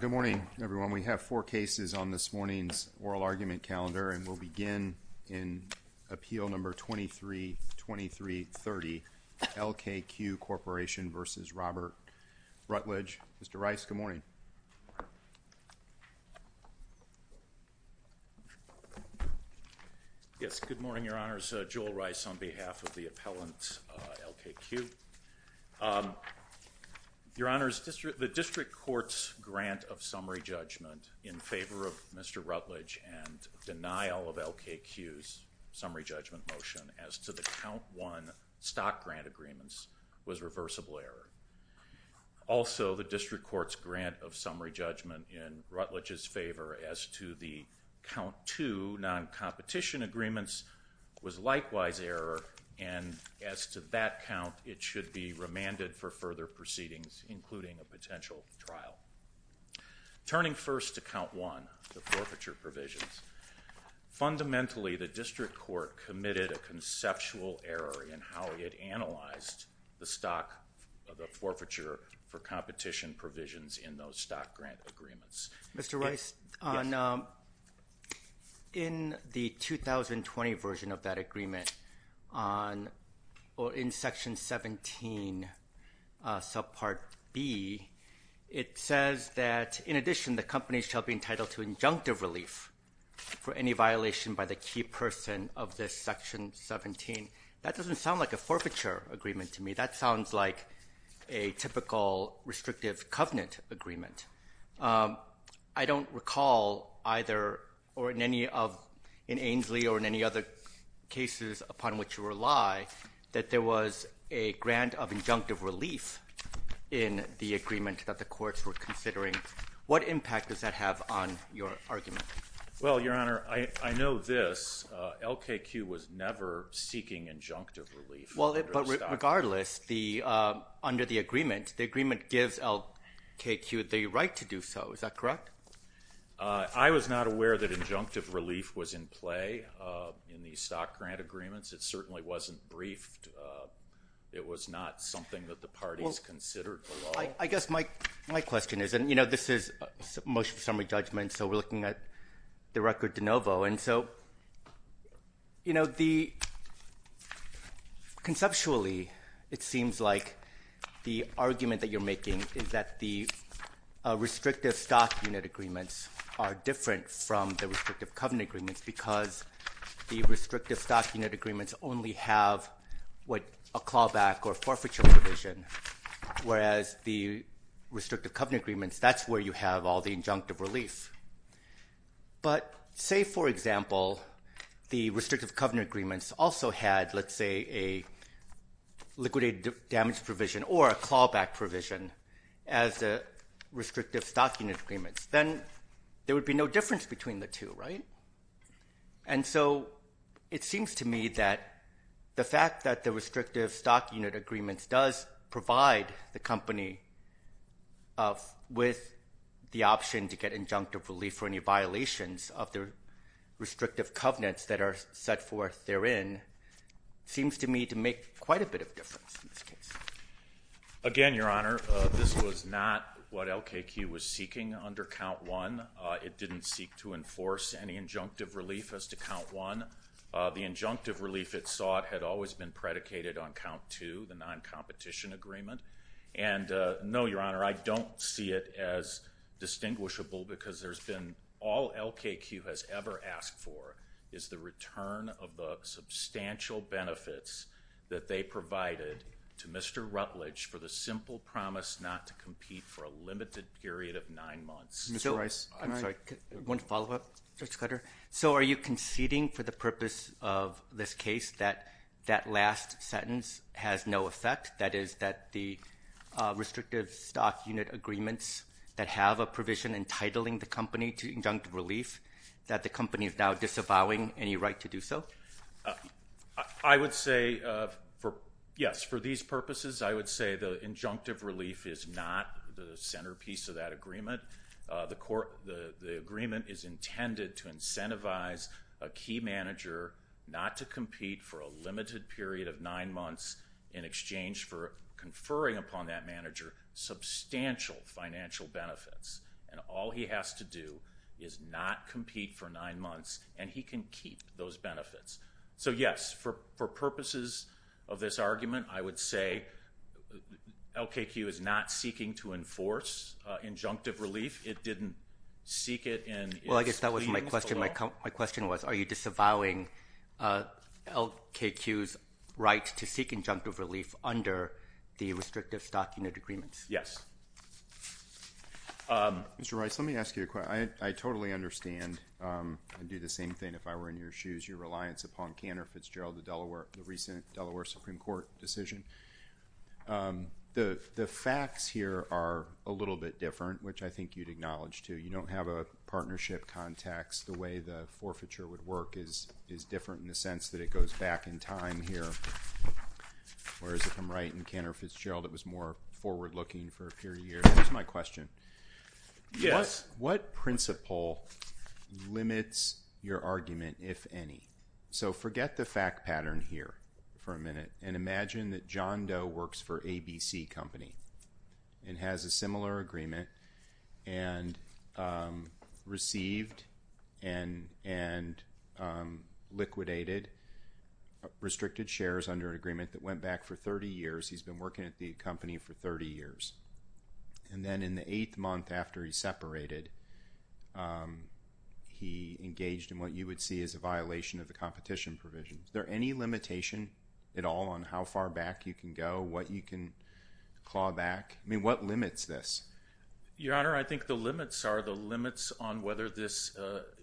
Good morning everyone. We have four cases on this morning's oral argument calendar and we'll begin in Appeal No. 232330, LKQ Corporation v. Robert Rutledge. Mr. Rice, good morning. Yes, good morning, Your Honors. Joel Rice on behalf of the appellant, LKQ. Your Honors, the District Court's grant of summary judgment in favor of Mr. Rutledge and denial of LKQ's summary judgment motion as to the count one stock grant agreements was reversible error. Also, the District Court's grant of summary judgment in Rutledge's favor as to the count two non-competition agreements was likewise error and as to that count, it should be remanded for further proceedings including a potential trial. Turning first to count one, the forfeiture provisions. Fundamentally, the District Court committed a conceptual error in how it analyzed the stock of the forfeiture for competition provisions in those stock grant agreements. Mr. Rice, in the 2020 version of that agreement on or in section 17 subpart B, it says that in addition the company shall be entitled to injunctive relief for any violation by the key person of this section 17. That doesn't sound like a forfeiture agreement to me. That sounds like a typical restrictive covenant agreement. I don't recall either or in any of in Ainslie or in any other cases upon which you rely that there was a grant of injunctive relief in the agreement that the courts were considering. What impact does that have on your argument? Your Honor, I know this. LKQ was never seeking injunctive relief. Regardless, under the agreement, the agreement gives LKQ the right to do so. Is that correct? I was not aware that injunctive relief was in play in the stock grant agreements. It certainly wasn't briefed. It was not something that the parties considered below. I guess my question is this is motion for summary judgment, so we're looking at the record de novo. Conceptually, it seems like the argument that you're making is that the restrictive stock unit agreements are different from the restrictive covenant agreements because the restrictive stock unit agreements only have a clawback or forfeiture provision, whereas the restrictive covenant agreements, that's where you have all the injunctive relief. But say, for example, the restrictive covenant agreements also had, let's say, a liquidated damage provision or a clawback provision as a restrictive stock unit agreement, then there would be no difference between the two, right? And so it seems to me that the fact that the restrictive stock unit agreements does provide the company with the option to get injunctive relief for any violations of the restrictive covenants that are set forth therein seems to me to make quite a bit of difference in this case. Again, Your Honor, this was not what LKQ was seeking under count one. It didn't seek to always be predicated on count two, the non-competition agreement. And no, Your Honor, I don't see it as distinguishable because there's been all LKQ has ever asked for is the return of the substantial benefits that they provided to Mr. Rutledge for the simple promise not to compete for a limited period of nine months. Mr. Rice, I'm sorry, one follow-up. Judge Cutter, so are you conceding for the purpose of this case that that last sentence has no effect, that is, that the restrictive stock unit agreements that have a provision entitling the company to injunctive relief, that the company is now disavowing any right to do so? I would say, yes, for these purposes, I would say the injunctive relief is not the centerpiece of that agreement. The agreement is intended to incentivize a key manager not to compete for a limited period of nine months in exchange for conferring upon that manager substantial financial benefits. And all he has to do is not compete for nine months, and he can keep those benefits. So, yes, for purposes of this argument, I would say LKQ is not seeking to enforce injunctive relief. It didn't seek it in its claims. Well, I guess that was my question. My question was, are you disavowing LKQ's right to seek injunctive relief under the restrictive stock unit agreements? Yes. Mr. Rice, let me ask you a question. I totally understand and do the same thing if I were in your shoes, your reliance upon Kanner Fitzgerald, the recent Delaware Supreme Court decision. The facts here are a little bit different, which I think you'd acknowledge, too. You don't have a partnership context. The way the forfeiture would work is different in the sense that it goes back in time here, whereas if I'm right in Kanner Fitzgerald, it was more forward-looking for a period of years. That's my question. Yes. What principle limits your argument, if any? So forget the fact pattern here for a minute and imagine that John Doe works for ABC Company and has a similar agreement and received and liquidated restricted shares under an agreement that went back for 30 years. He's been working at the company for 30 years. And then in the eighth month after he separated, he engaged in what you would see as a violation of the competition provisions. Is there any limitation at all on how far back you can go, what you can claw back? I mean, what limits this? Your Honor, I think the limits are the limits on whether this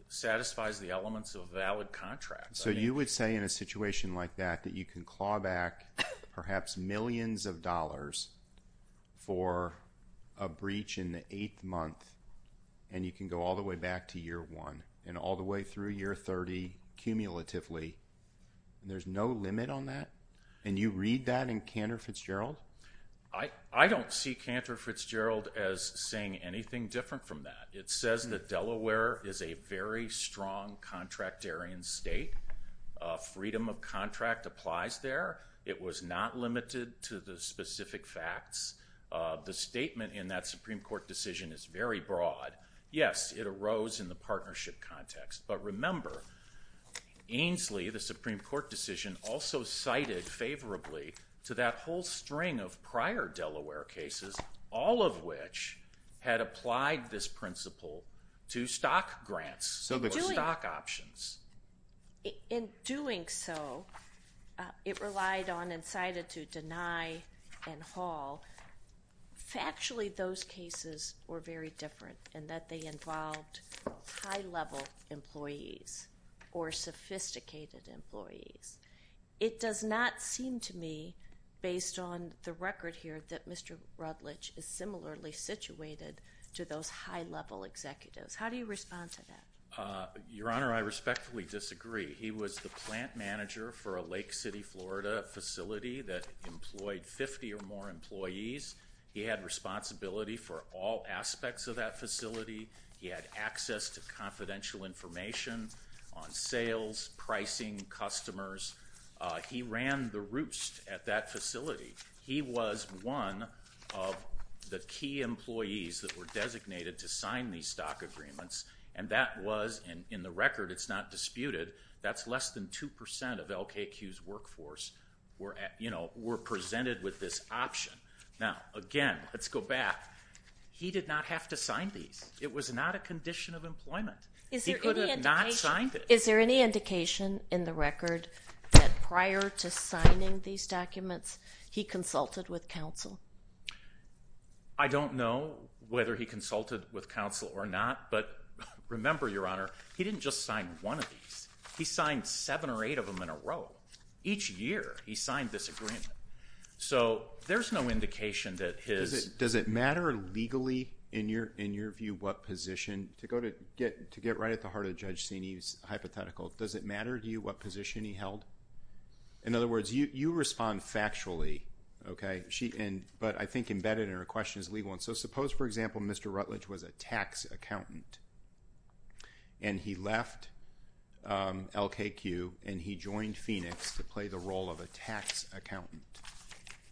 satisfies the elements of valid contracts. So you would say in a situation like that that you can claw back perhaps millions of dollars and you can go all the way back to year one and all the way through year 30 cumulatively, there's no limit on that? And you read that in Kanner Fitzgerald? I don't see Kanner Fitzgerald as saying anything different from that. It says that Delaware is a very strong contractarian state. Freedom of contract applies there. It was not limited to the specific facts. The statement in that Supreme Court decision is very broad. Yes, it arose in the partnership context. But remember, Ainslie, the Supreme Court decision, also cited favorably to that whole string of prior Delaware cases, all of which had applied this principle to stock grants or stock options. In doing so, it relied on and cited to deny and haul. Factually, those cases were very different in that they involved high-level employees or sophisticated employees. It does not seem to me, based on the record here, that Mr. Rutledge is similarly situated to those high-level executives. How do you respond to that? Your Honor, I respectfully disagree. He was the plant manager for a Lake City, Florida facility that employed 50 or more employees. He had responsibility for all aspects of that facility. He had access to confidential information on sales, pricing, customers. He ran the roost at that facility. He was one of the key employees that were designated to sign these stock agreements. And that was, in the record, it's not disputed, that's less than 2% of LKQ's workforce were presented with this option. Now, again, let's go back. He did not have to sign these. It was not a condition of employment. He could have not signed it. Is there any indication in the record that prior to signing these documents, he consulted with counsel? I don't know whether he consulted with counsel or not, but remember, Your Honor, he didn't just sign one of these. He signed seven or eight of them in a row. Each year, he signed this agreement. So, there's no indication that his... Does it matter legally, in your view, what position... To get right at the heart of Judge Sini's hypothetical, does it matter to you what position he held? In other words, you respond factually, but I think embedded in her question is legal. So, suppose, for example, Mr. Rutledge was a tax accountant and he left LKQ and he joined Phoenix to play the role of a tax accountant.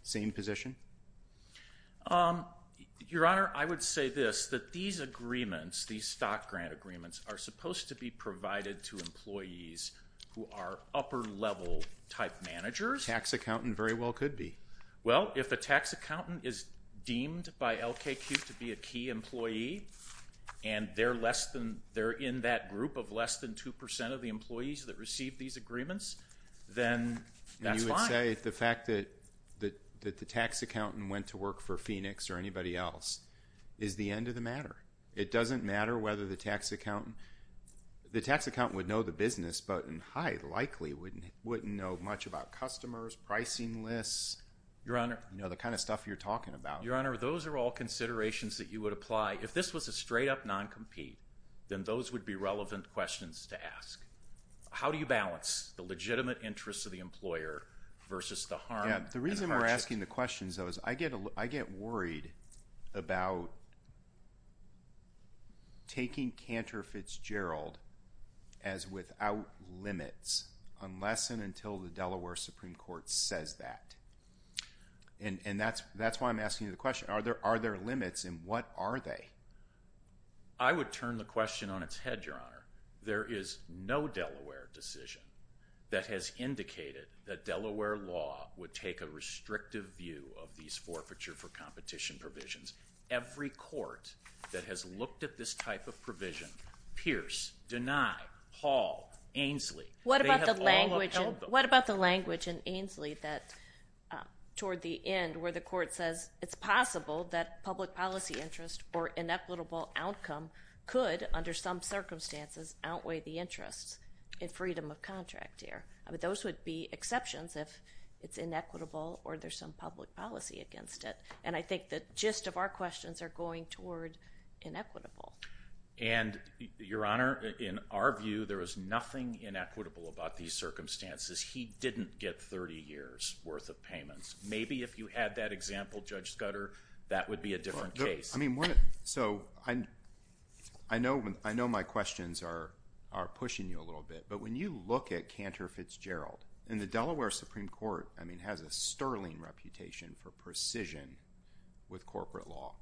Same position? Your Honor, I would say this, that these agreements, these stock grant agreements, are supposed to be provided to employees who are upper-level type managers. Tax accountant very well could be. Well, if a tax accountant is deemed by LKQ to be a key employee and they're less than... they're in that group of less than 2% of the employees that receive these agreements, then that's fine. You would say the fact that the tax accountant went to work for Phoenix or anybody else is the end of the matter. It doesn't matter whether the tax accountant... The tax accountant would know the business, but in high likelihood, wouldn't know much about customers, pricing lists... Your Honor... You know, the kind of stuff you're talking about. Your Honor, those are all considerations that you would apply. If this was a straight-up non-compete, then those would be relevant questions to ask. How do you balance the legitimate interest of the employer versus the harm... Yeah. The reason we're asking the questions, though, is I get worried about taking Cantor Fitzgerald as without limits unless and until the Delaware Supreme Court says that. And that's why I'm asking you the question. Are there limits, and what are they? I would turn the question on its head, Your Honor. There is no Delaware decision that has indicated that Delaware law would take a restrictive view of these forfeiture for competition provisions. Every court that has looked at this type of provision... Pierce, Deny, Hall, Ainslie... What about the language in Ainslie that, toward the end, where the court says it's possible that public policy interest or inequitable outcome could, under some circumstances, outweigh the interest in freedom of contract here? I mean, those would be exceptions if it's inequitable or there's some public policy against it. And I think the gist of our questions are going toward inequitable. And, Your Honor, in our view, there is nothing inequitable about these circumstances. He didn't get 30 years' worth of payments. Maybe if you had that example, Judge Scudder, that would be a different case. I know my questions are pushing you a little bit, but when you look at Cantor Fitzgerald... And the Delaware Supreme Court has a sterling reputation for precision with corporate law.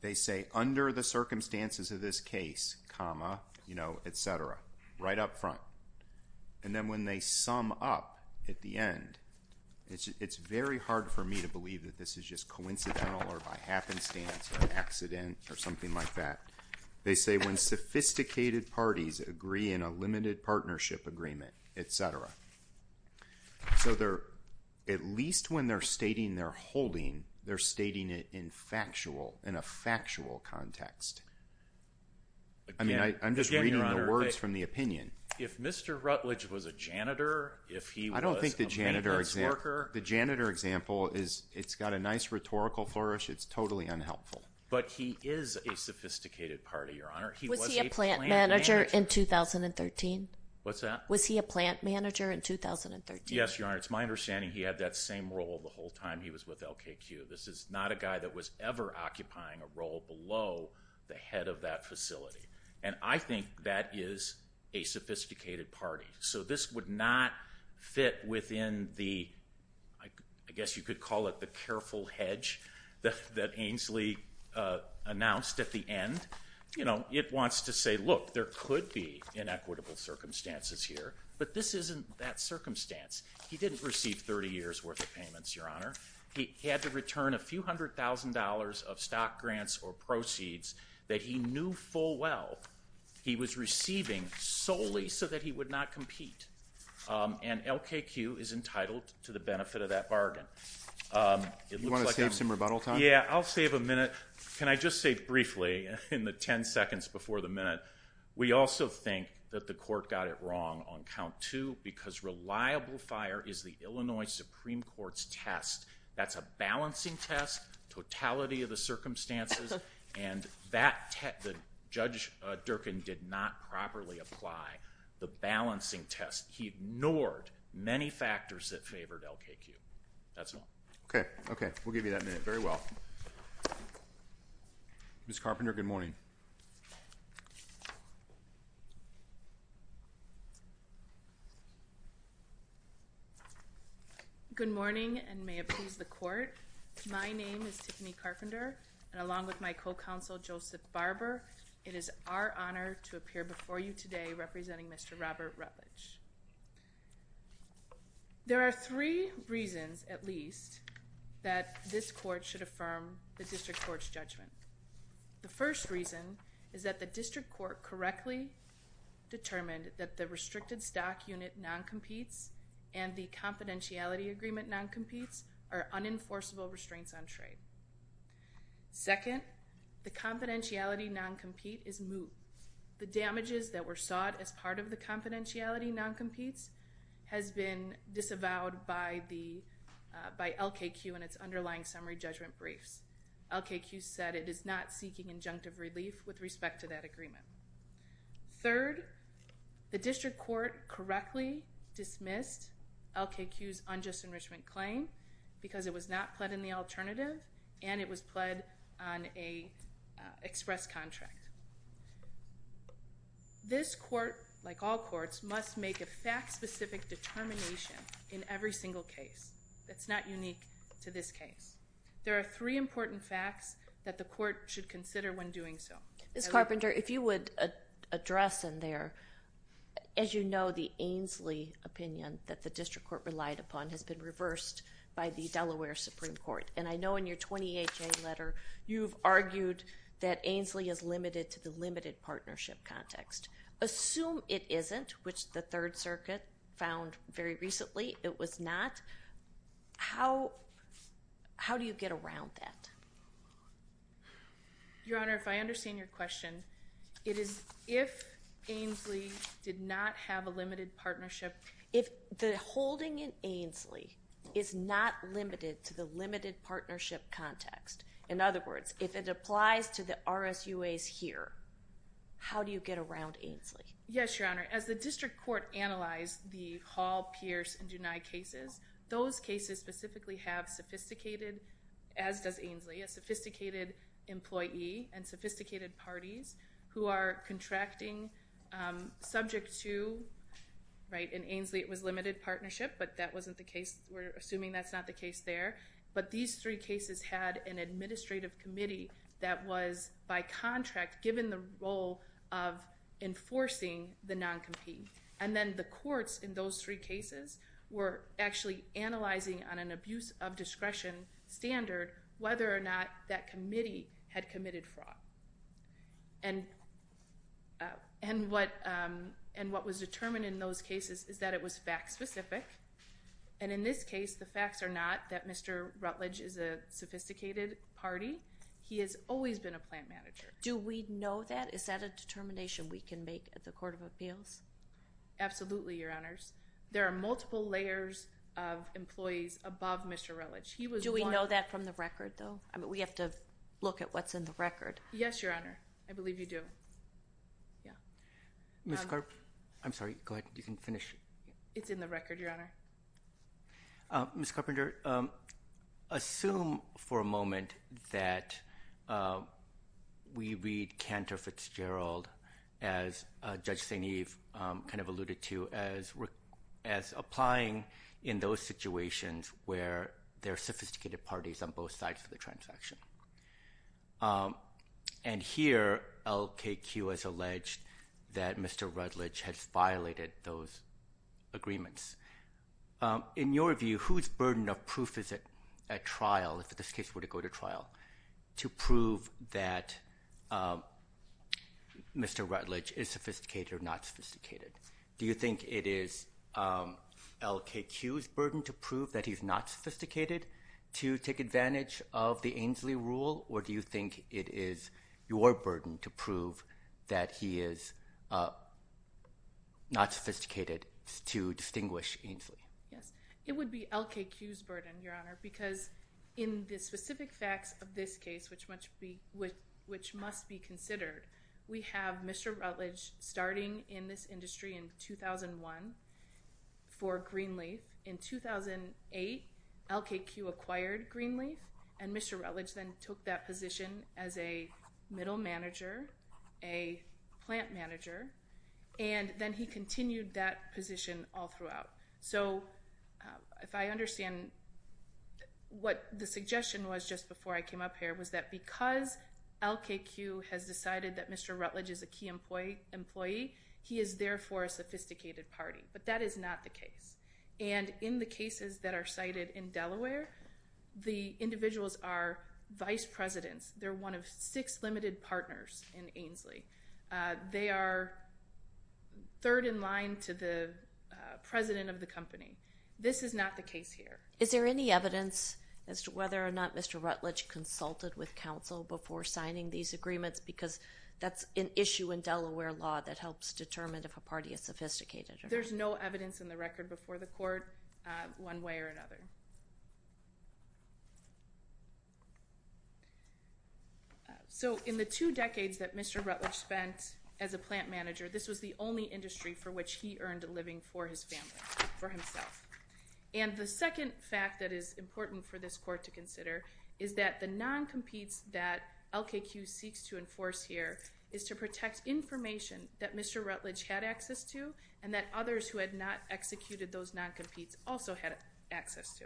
They say, under the circumstances of this case, comma, et cetera, right up front. And then, when they sum up at the end, it's very hard for me to believe that this is just coincidental or by happenstance or accident or something like that. They say, when sophisticated parties agree in a limited partnership agreement, et cetera. So, at least when they're stating they're holding, they're stating it in a factual context. Again, Your Honor, if Mr. Rutledge was a janitor, if he was a maintenance worker... I don't think the janitor example... The janitor example, it's got a nice rhetorical flourish. It's totally unhelpful. But he is a sophisticated party, Your Honor. He was a plant manager... Was he a plant manager in 2013? What's that? Was he a plant manager in 2013? Yes, Your Honor. It's my understanding he had that same role the whole time he was with LKQ. This is not a guy that was ever occupying a role below the head of that facility. And I think that is a sophisticated party. So, this would not fit within the... I guess you could call it the careful hedge that Ainslie announced at the end. You know, it wants to say, look, there could be inequitable circumstances here, but this isn't that a few hundred thousand dollars of stock grants or proceeds that he knew full well he was receiving solely so that he would not compete. And LKQ is entitled to the benefit of that bargain. Do you want to save some rebuttal time? Yeah, I'll save a minute. Can I just say briefly, in the 10 seconds before the minute, we also think that the court got it wrong on is the Illinois Supreme Court's test. That's a balancing test, totality of the circumstances, and Judge Durkin did not properly apply the balancing test. He ignored many factors that favored LKQ. That's all. Okay. Okay. We'll give you that minute. Very well. Ms. Carpenter, good morning. Good morning, and may it please the court. My name is Tiffany Carpenter, and along with my co-counsel, Joseph Barber, it is our honor to appear before you today representing Mr. Robert Rutledge. There are three reasons, at least, that this court should affirm the district court's judgment. The first reason is that the district court correctly determined that the restricted stock unit non-competes and the confidentiality agreement non-competes are unenforceable restraints on trade. Second, the confidentiality non-compete is moved. The damages that were sought as part of the confidentiality non-competes has been disavowed by LKQ and its underlying summary judgment briefs. LKQ said it is not seeking injunctive relief with respect to that correctly dismissed LKQ's unjust enrichment claim because it was not pled in the alternative, and it was pled on a express contract. This court, like all courts, must make a fact-specific determination in every single case that's not unique to this case. There are three important facts that the court should consider when doing so. Ms. Carpenter, if you would address in there, as you know, the Ainslie opinion that the district court relied upon has been reversed by the Delaware Supreme Court, and I know in your 28-J letter you've argued that Ainslie is limited to the limited partnership context. Assume it isn't, which the Third Circuit found very recently it was not. How do you get around that? Your Honor, if I understand your question, it is if Ainslie did not have a limited partnership. If the holding in Ainslie is not limited to the limited partnership context, in other words, if it applies to the RSUAs here, how do you get around Ainslie? Yes, Your Honor. As the district court analyzed the Hall, Pierce, and Dunai cases, those cases specifically have sophisticated, as does Ainslie, a sophisticated employee and sophisticated parties who are contracting subject to, right, in Ainslie it was limited partnership, but that wasn't the case. We're assuming that's not the case there, but these three cases had an administrative committee that was by contract given the role of enforcing the non-compete, and then the courts in those three cases were actually analyzing on abuse of discretion standard whether or not that committee had committed fraud. And what was determined in those cases is that it was fact specific, and in this case the facts are not that Mr. Rutledge is a sophisticated party. He has always been a plant manager. Do we know that? Is that a determination we can make at the Court of Appeals? Absolutely, Your Honors. There are multiple layers of employees above Mr. Rutledge. Do we know that from the record, though? We have to look at what's in the record. Yes, Your Honor. I believe you do. I'm sorry. Go ahead. You can finish. It's in the record, Your Honor. Ms. Carpenter, assume for a moment that we read Cantor Fitzgerald as Judge St. Eve kind of alluded to as applying in those situations where there are sophisticated parties on both sides of the transaction, and here LKQ has alleged that Mr. Rutledge has violated those agreements. In your view, whose burden of proof is at trial, if in this case were to go to trial, to prove that Mr. Rutledge is sophisticated or not sophisticated? Do you think it is LKQ's burden to prove that he's not sophisticated to take advantage of the Ainslie rule, or do you think it is your burden to prove that he is not sophisticated to distinguish Ainslie? Yes, it would be LKQ's burden, Your Honor, because in the specific facts of this case, which must be considered, we have Mr. Rutledge starting in this industry in 2001 for Greenleaf. In 2008, LKQ acquired Greenleaf, and Mr. Rutledge then took that position as a middle manager, a plant manager, and then he continued that what the suggestion was just before I came up here was that because LKQ has decided that Mr. Rutledge is a key employee, he is there for a sophisticated party, but that is not the case. And in the cases that are cited in Delaware, the individuals are vice presidents. They're one of six limited partners in Ainslie. They are third in line to the president of the company. This is not the case here. Is there any evidence as to whether or not Mr. Rutledge consulted with counsel before signing these agreements? Because that's an issue in Delaware law that helps determine if a party is sophisticated. There's no evidence in the record before the court one way or another. So in the two decades that Mr. Rutledge spent as a plant manager, this was the only And the second fact that is important for this court to consider is that the non-competes that LKQ seeks to enforce here is to protect information that Mr. Rutledge had access to and that others who had not executed those non-competes also had access to.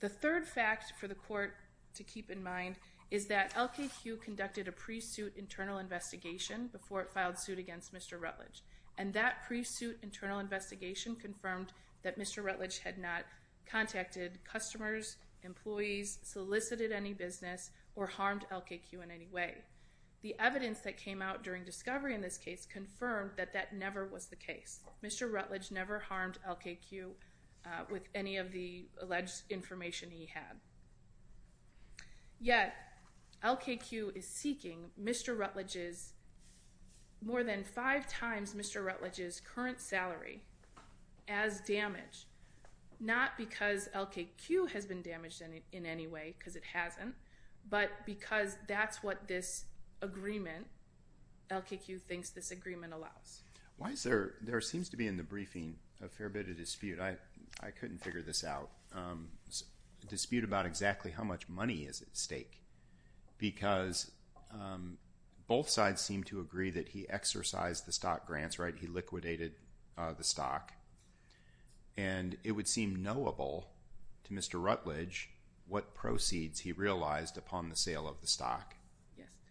The third fact for the court to keep in mind is that LKQ conducted a pre-suit internal investigation before it filed suit against Mr. Rutledge, and that pre-suit internal investigation confirmed that Mr. Rutledge had not contacted customers, employees, solicited any business, or harmed LKQ in any way. The evidence that came out during discovery in this case confirmed that that never was the case. Mr. Rutledge never harmed LKQ with any of the alleged information he had. Yet, LKQ is seeking Mr. Rutledge's, more than five times Mr. Rutledge's current salary as damage. Not because LKQ has been damaged in any way, because it hasn't, but because that's what this agreement, LKQ thinks this agreement allows. Why is there, there seems to be in the briefing a fair bit of dispute. I couldn't figure this out. Dispute about exactly how much money is at stake because both sides seem to agree that he exercised the stock grants, right? He liquidated the stock, and it would seem knowable to Mr. Rutledge what proceeds he realized upon the sale of the stock,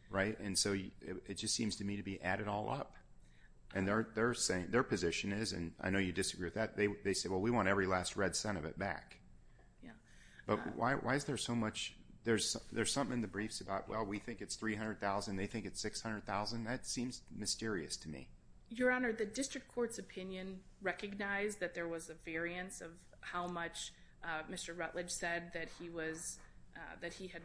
right? And so, it just seems to me to be added all up. And they're saying, their position is, and I know you disagree with that, they say, well, we want every last red cent of it back. But why is there so much, there's something in the briefs about, well, we think it's $300,000, they think it's $600,000. That seems mysterious to me. Your Honor, the district court's opinion recognized that there was a variance of how much Mr. Rutledge said that he was, that he had,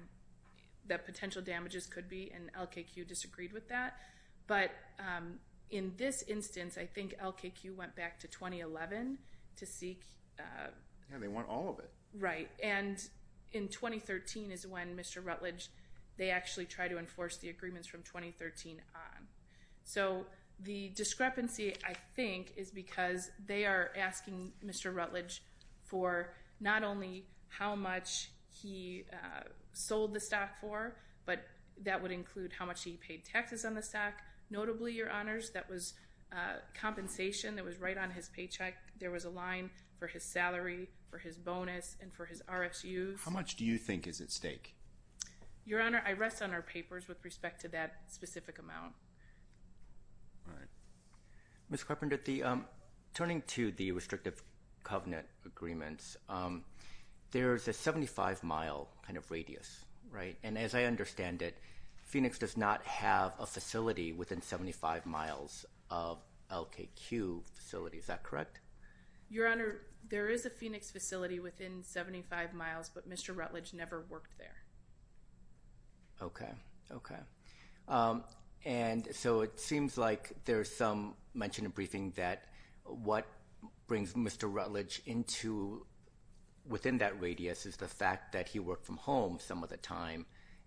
that potential damages could be, and LKQ disagreed with that. But in this instance, I think LKQ went back to 2011 to seek. Yeah, they want all of it. Right. And in 2013 is when Mr. Rutledge said, well, we think it's $300,000. So, the discrepancy, I think, is because they are asking Mr. Rutledge for not only how much he sold the stock for, but that would include how much he paid taxes on the stock. Notably, Your Honors, that was compensation that was right on his paycheck. There was a line for his salary, for his bonus, and for his RSUs. How much do you think is at stake? Your Honor, I rest on our papers with respect to that specific amount. All right. Ms. Carpenter, the, turning to the restrictive covenant agreements, there's a 75-mile kind of radius, right? And as I understand it, Phoenix does not have a facility within 75 miles of LKQ facility. Is that correct? Your Honor, there is a Phoenix facility within 75 miles, but Mr. Rutledge never worked there. Okay. Okay. And so, it seems like there's some mention in briefing that what brings Mr. Rutledge into, within that radius, is the fact that he worked from home some of the time,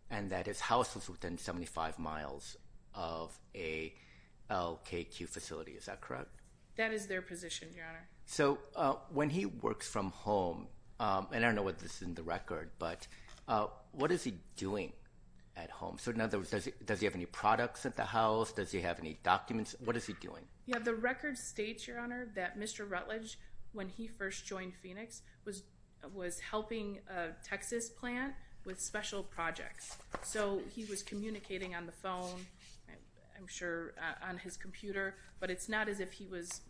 and that his house was within 75 miles of a LKQ facility. Is that correct? That is their position, Your Honor. So, when he works from home, and I don't know what this is in the record, but what is he doing at home? So, in other words, does he have any products at the house? Does he have any documents? What is he doing? Yeah, the record states, Your Honor, that Mr. Rutledge, when he first joined Phoenix, was helping a Texas plant with special projects. So, he was communicating on the phone, I'm sure on his computer, but it's not as if he was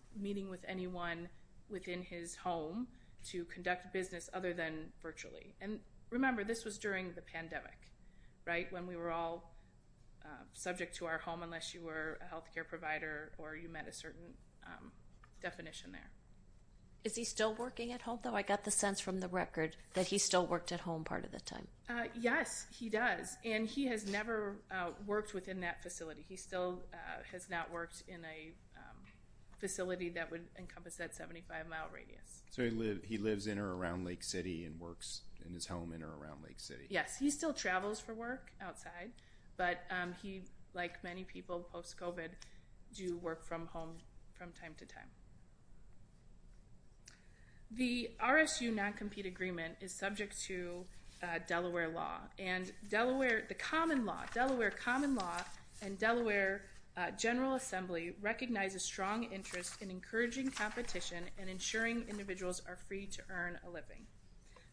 with anyone within his home to conduct business other than virtually. And remember, this was during the pandemic, right? When we were all subject to our home, unless you were a health care provider or you met a certain definition there. Is he still working at home, though? I got the sense from the record that he still worked at home part of the time. Yes, he does, and he has encompassed that 75-mile radius. So, he lives in or around Lake City and works in his home in or around Lake City? Yes, he still travels for work outside, but he, like many people post-COVID, do work from home from time to time. The RSU non-compete agreement is subject to Delaware law, and the common law, Delaware common law and Delaware General Assembly recognize a strong interest in encouraging competition and ensuring individuals are free to earn a living.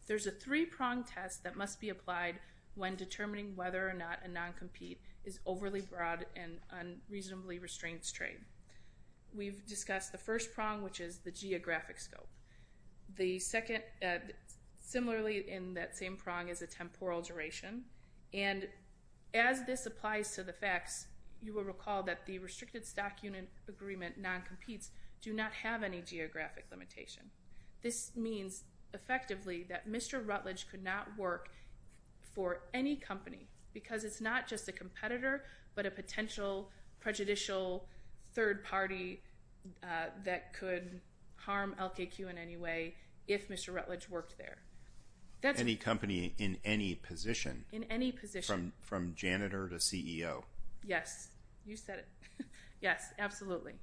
There's a three-prong test that must be applied when determining whether or not a non-compete is overly broad and unreasonably restraints trade. We've discussed the first prong, which is the geographic scope. The second, similarly in that same prong, is a temporal duration, and as this applies to the facts, you will recall that the restricted stock unit agreement non-competes do not have any geographic limitation. This means, effectively, that Mr. Rutledge could not work for any company because it's not just a competitor, but a potential prejudicial third party that could harm LKQ in any way if Mr. Rutledge worked there. Any company in any position? In any position. From janitor to CEO? Yes, you said it. Yes, absolutely.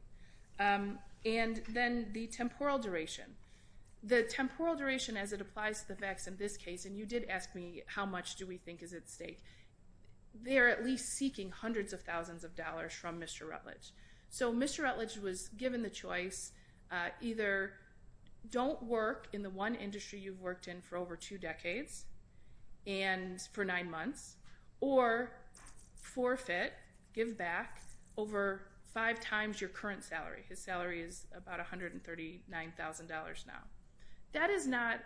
And then the temporal duration. The temporal duration, as it applies to the facts in this case, and you did ask me how much do we think is at stake, they are at least seeking hundreds of thousands of dollars. If you don't work in the one industry you've worked in for over two decades and for nine months, or forfeit, give back, over five times your current salary. His salary is about $139,000 now. That is not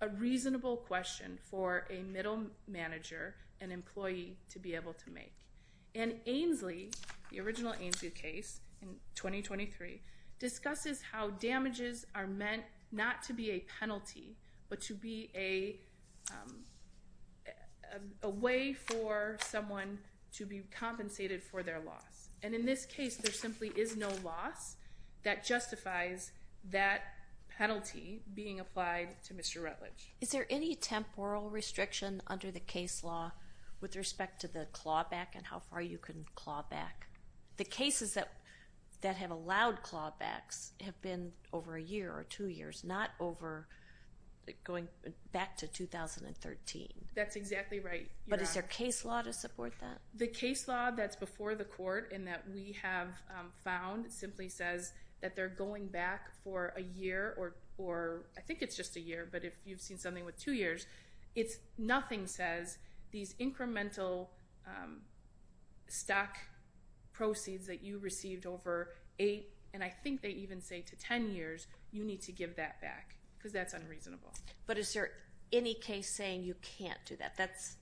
a reasonable question for a middle manager and employee to be able to make. And Ainslie, the original Ainslie case in 2023, discusses how damages are meant not to be a penalty, but to be a way for someone to be compensated for their loss. And in this case, there simply is no loss that justifies that penalty being applied to Mr. Rutledge. Is there any temporal restriction under the case law with respect to the clawback and how far you can claw back? The cases that have allowed clawbacks have been over a year or two years, not over going back to 2013. That's exactly right. But is there a case law to support that? The case law that's before the court and that we have found simply says that they're going back for a year, or I think it's just a year, but if you've seen something with two years, nothing says these incremental stock proceeds that you received over eight, and I think they even say to 10 years, you need to give that back because that's unreasonable. But is there any case saying you can't do that? That's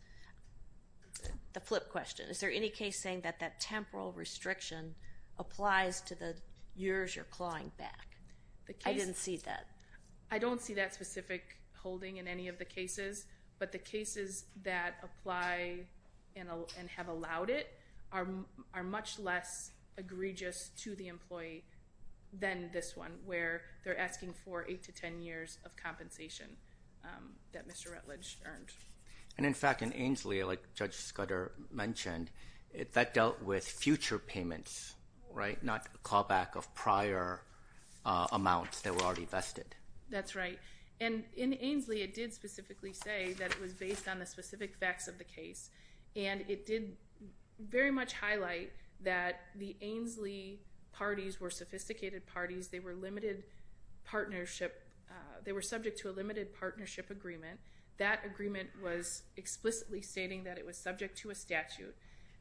the flip question. Is there any case saying that temporal restriction applies to the years you're clawing back? I didn't see that. I don't see that specific holding in any of the cases, but the cases that apply and have allowed it are much less egregious to the employee than this one where they're asking for eight to 10 years of compensation that Mr. Rutledge earned. And in fact, in Ainslie, like Judge Scudder mentioned, that dealt with future payments, right, not a callback of prior amounts that were already vested. That's right. And in Ainslie, it did specifically say that it was based on the specific facts of the case, and it did very much highlight that the Ainslie parties were sophisticated parties. They were limited partnership. They were subject to a limited partnership agreement. That agreement was explicitly stating that it was subject to a statute.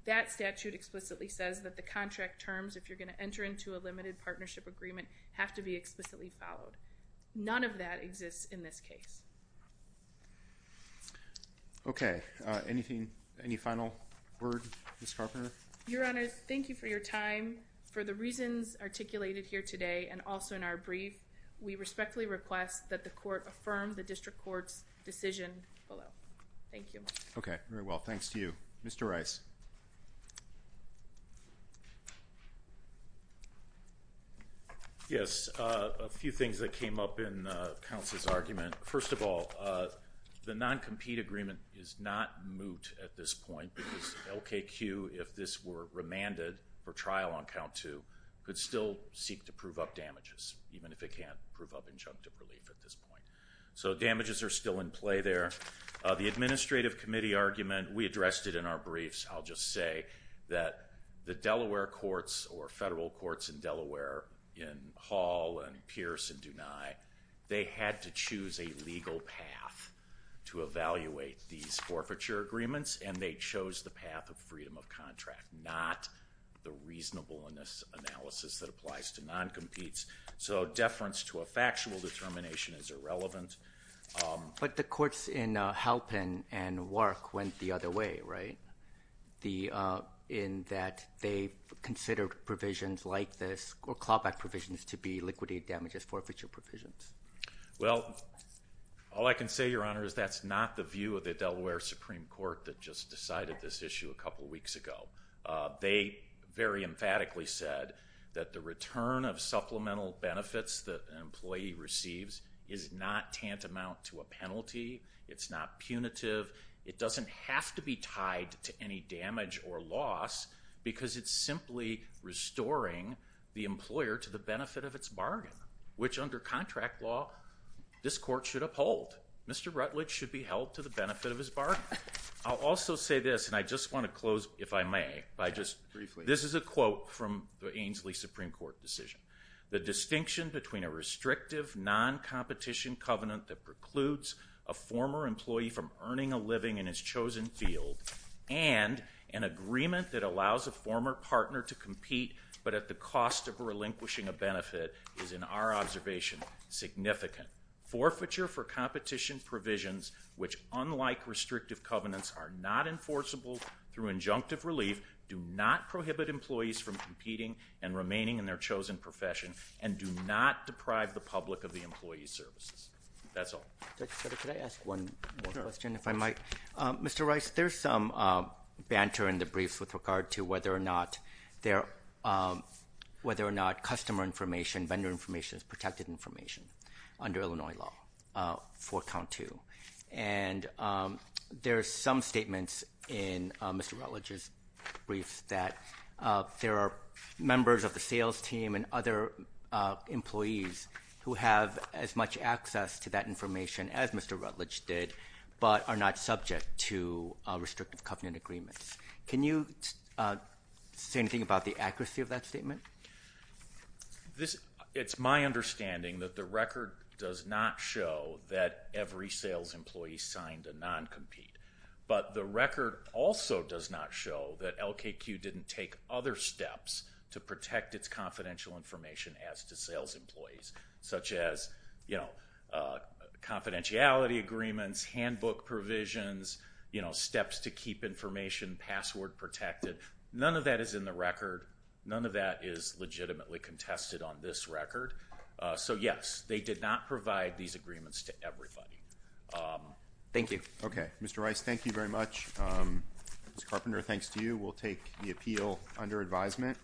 That statute explicitly says that the contract terms, if you're going to enter into a limited partnership agreement, have to be explicitly followed. None of that exists in this case. Okay, anything, any final word, Ms. Carpenter? Your Honor, thank you for your time. For the reasons articulated here today and also in our brief, we respectfully request that the court affirm the district court's decision below. Thank you. Okay, very well. Thanks to you. Mr. Rice. Yes, a few things that came up in counsel's argument. First of all, the non-compete agreement is not moot at this point because LKQ, if this were remanded for trial on count two, could still seek to prove up damages, even if it can't prove up injunctive relief at this point. So damages are still in play there. The administrative committee argument, we addressed it in our briefs. I'll just say that the Delaware courts or federal courts in Delaware in Hall and Pierce and Dunai, they had to choose a legal path to evaluate these forfeiture agreements, and they chose the path of freedom of contract, not the reasonableness analysis that applies to non-competes. So deference to a factual determination is irrelevant. But the courts in Halpin and Wark went the other way, right? In that they consider provisions like this or clawback provisions to be liquidated damages forfeiture provisions. Well, all I can say, that's not the view of the Delaware Supreme Court that just decided this issue a couple weeks ago. They very emphatically said that the return of supplemental benefits that an employee receives is not tantamount to a penalty. It's not punitive. It doesn't have to be tied to any damage or loss because it's simply restoring the employer to the benefit of its bargain, which under contract law, this court should uphold. Mr. Rutledge should be held to the benefit of his bargain. I'll also say this, and I just want to close, if I may, by just briefly. This is a quote from the Ainslie Supreme Court decision. The distinction between a restrictive non-competition covenant that precludes a former employee from earning a living in his chosen field and an agreement that allows a former partner to compete, but at the cost of relinquishing a observation, significant forfeiture for competition provisions, which unlike restrictive covenants, are not enforceable through injunctive relief, do not prohibit employees from competing and remaining in their chosen profession, and do not deprive the public of the employee's services. That's all. Could I ask one more question, if I might? Mr. Rice, there's some banter in the brief with regard to whether or not customer information, vendor information is protected information under Illinois law for count two. There's some statements in Mr. Rutledge's briefs that there are members of the sales team and other employees who have as much access to that information as Mr. Rutledge did, but are not subject to restrictive covenant agreements. Can you say anything about the accuracy of that statement? It's my understanding that the record does not show that every sales employee signed a non-compete, but the record also does not show that LKQ didn't take other steps to protect its confidential information as to sales employees, such as confidentiality agreements, handbook provisions, steps to keep information password protected. None of that is in the record. None of that is legitimately contested on this record. So yes, they did not provide these agreements to everybody. Thank you. Okay. Mr. Rice, thank you very much. Ms. Carpenter, thanks to you. We'll take the appeal under advisement.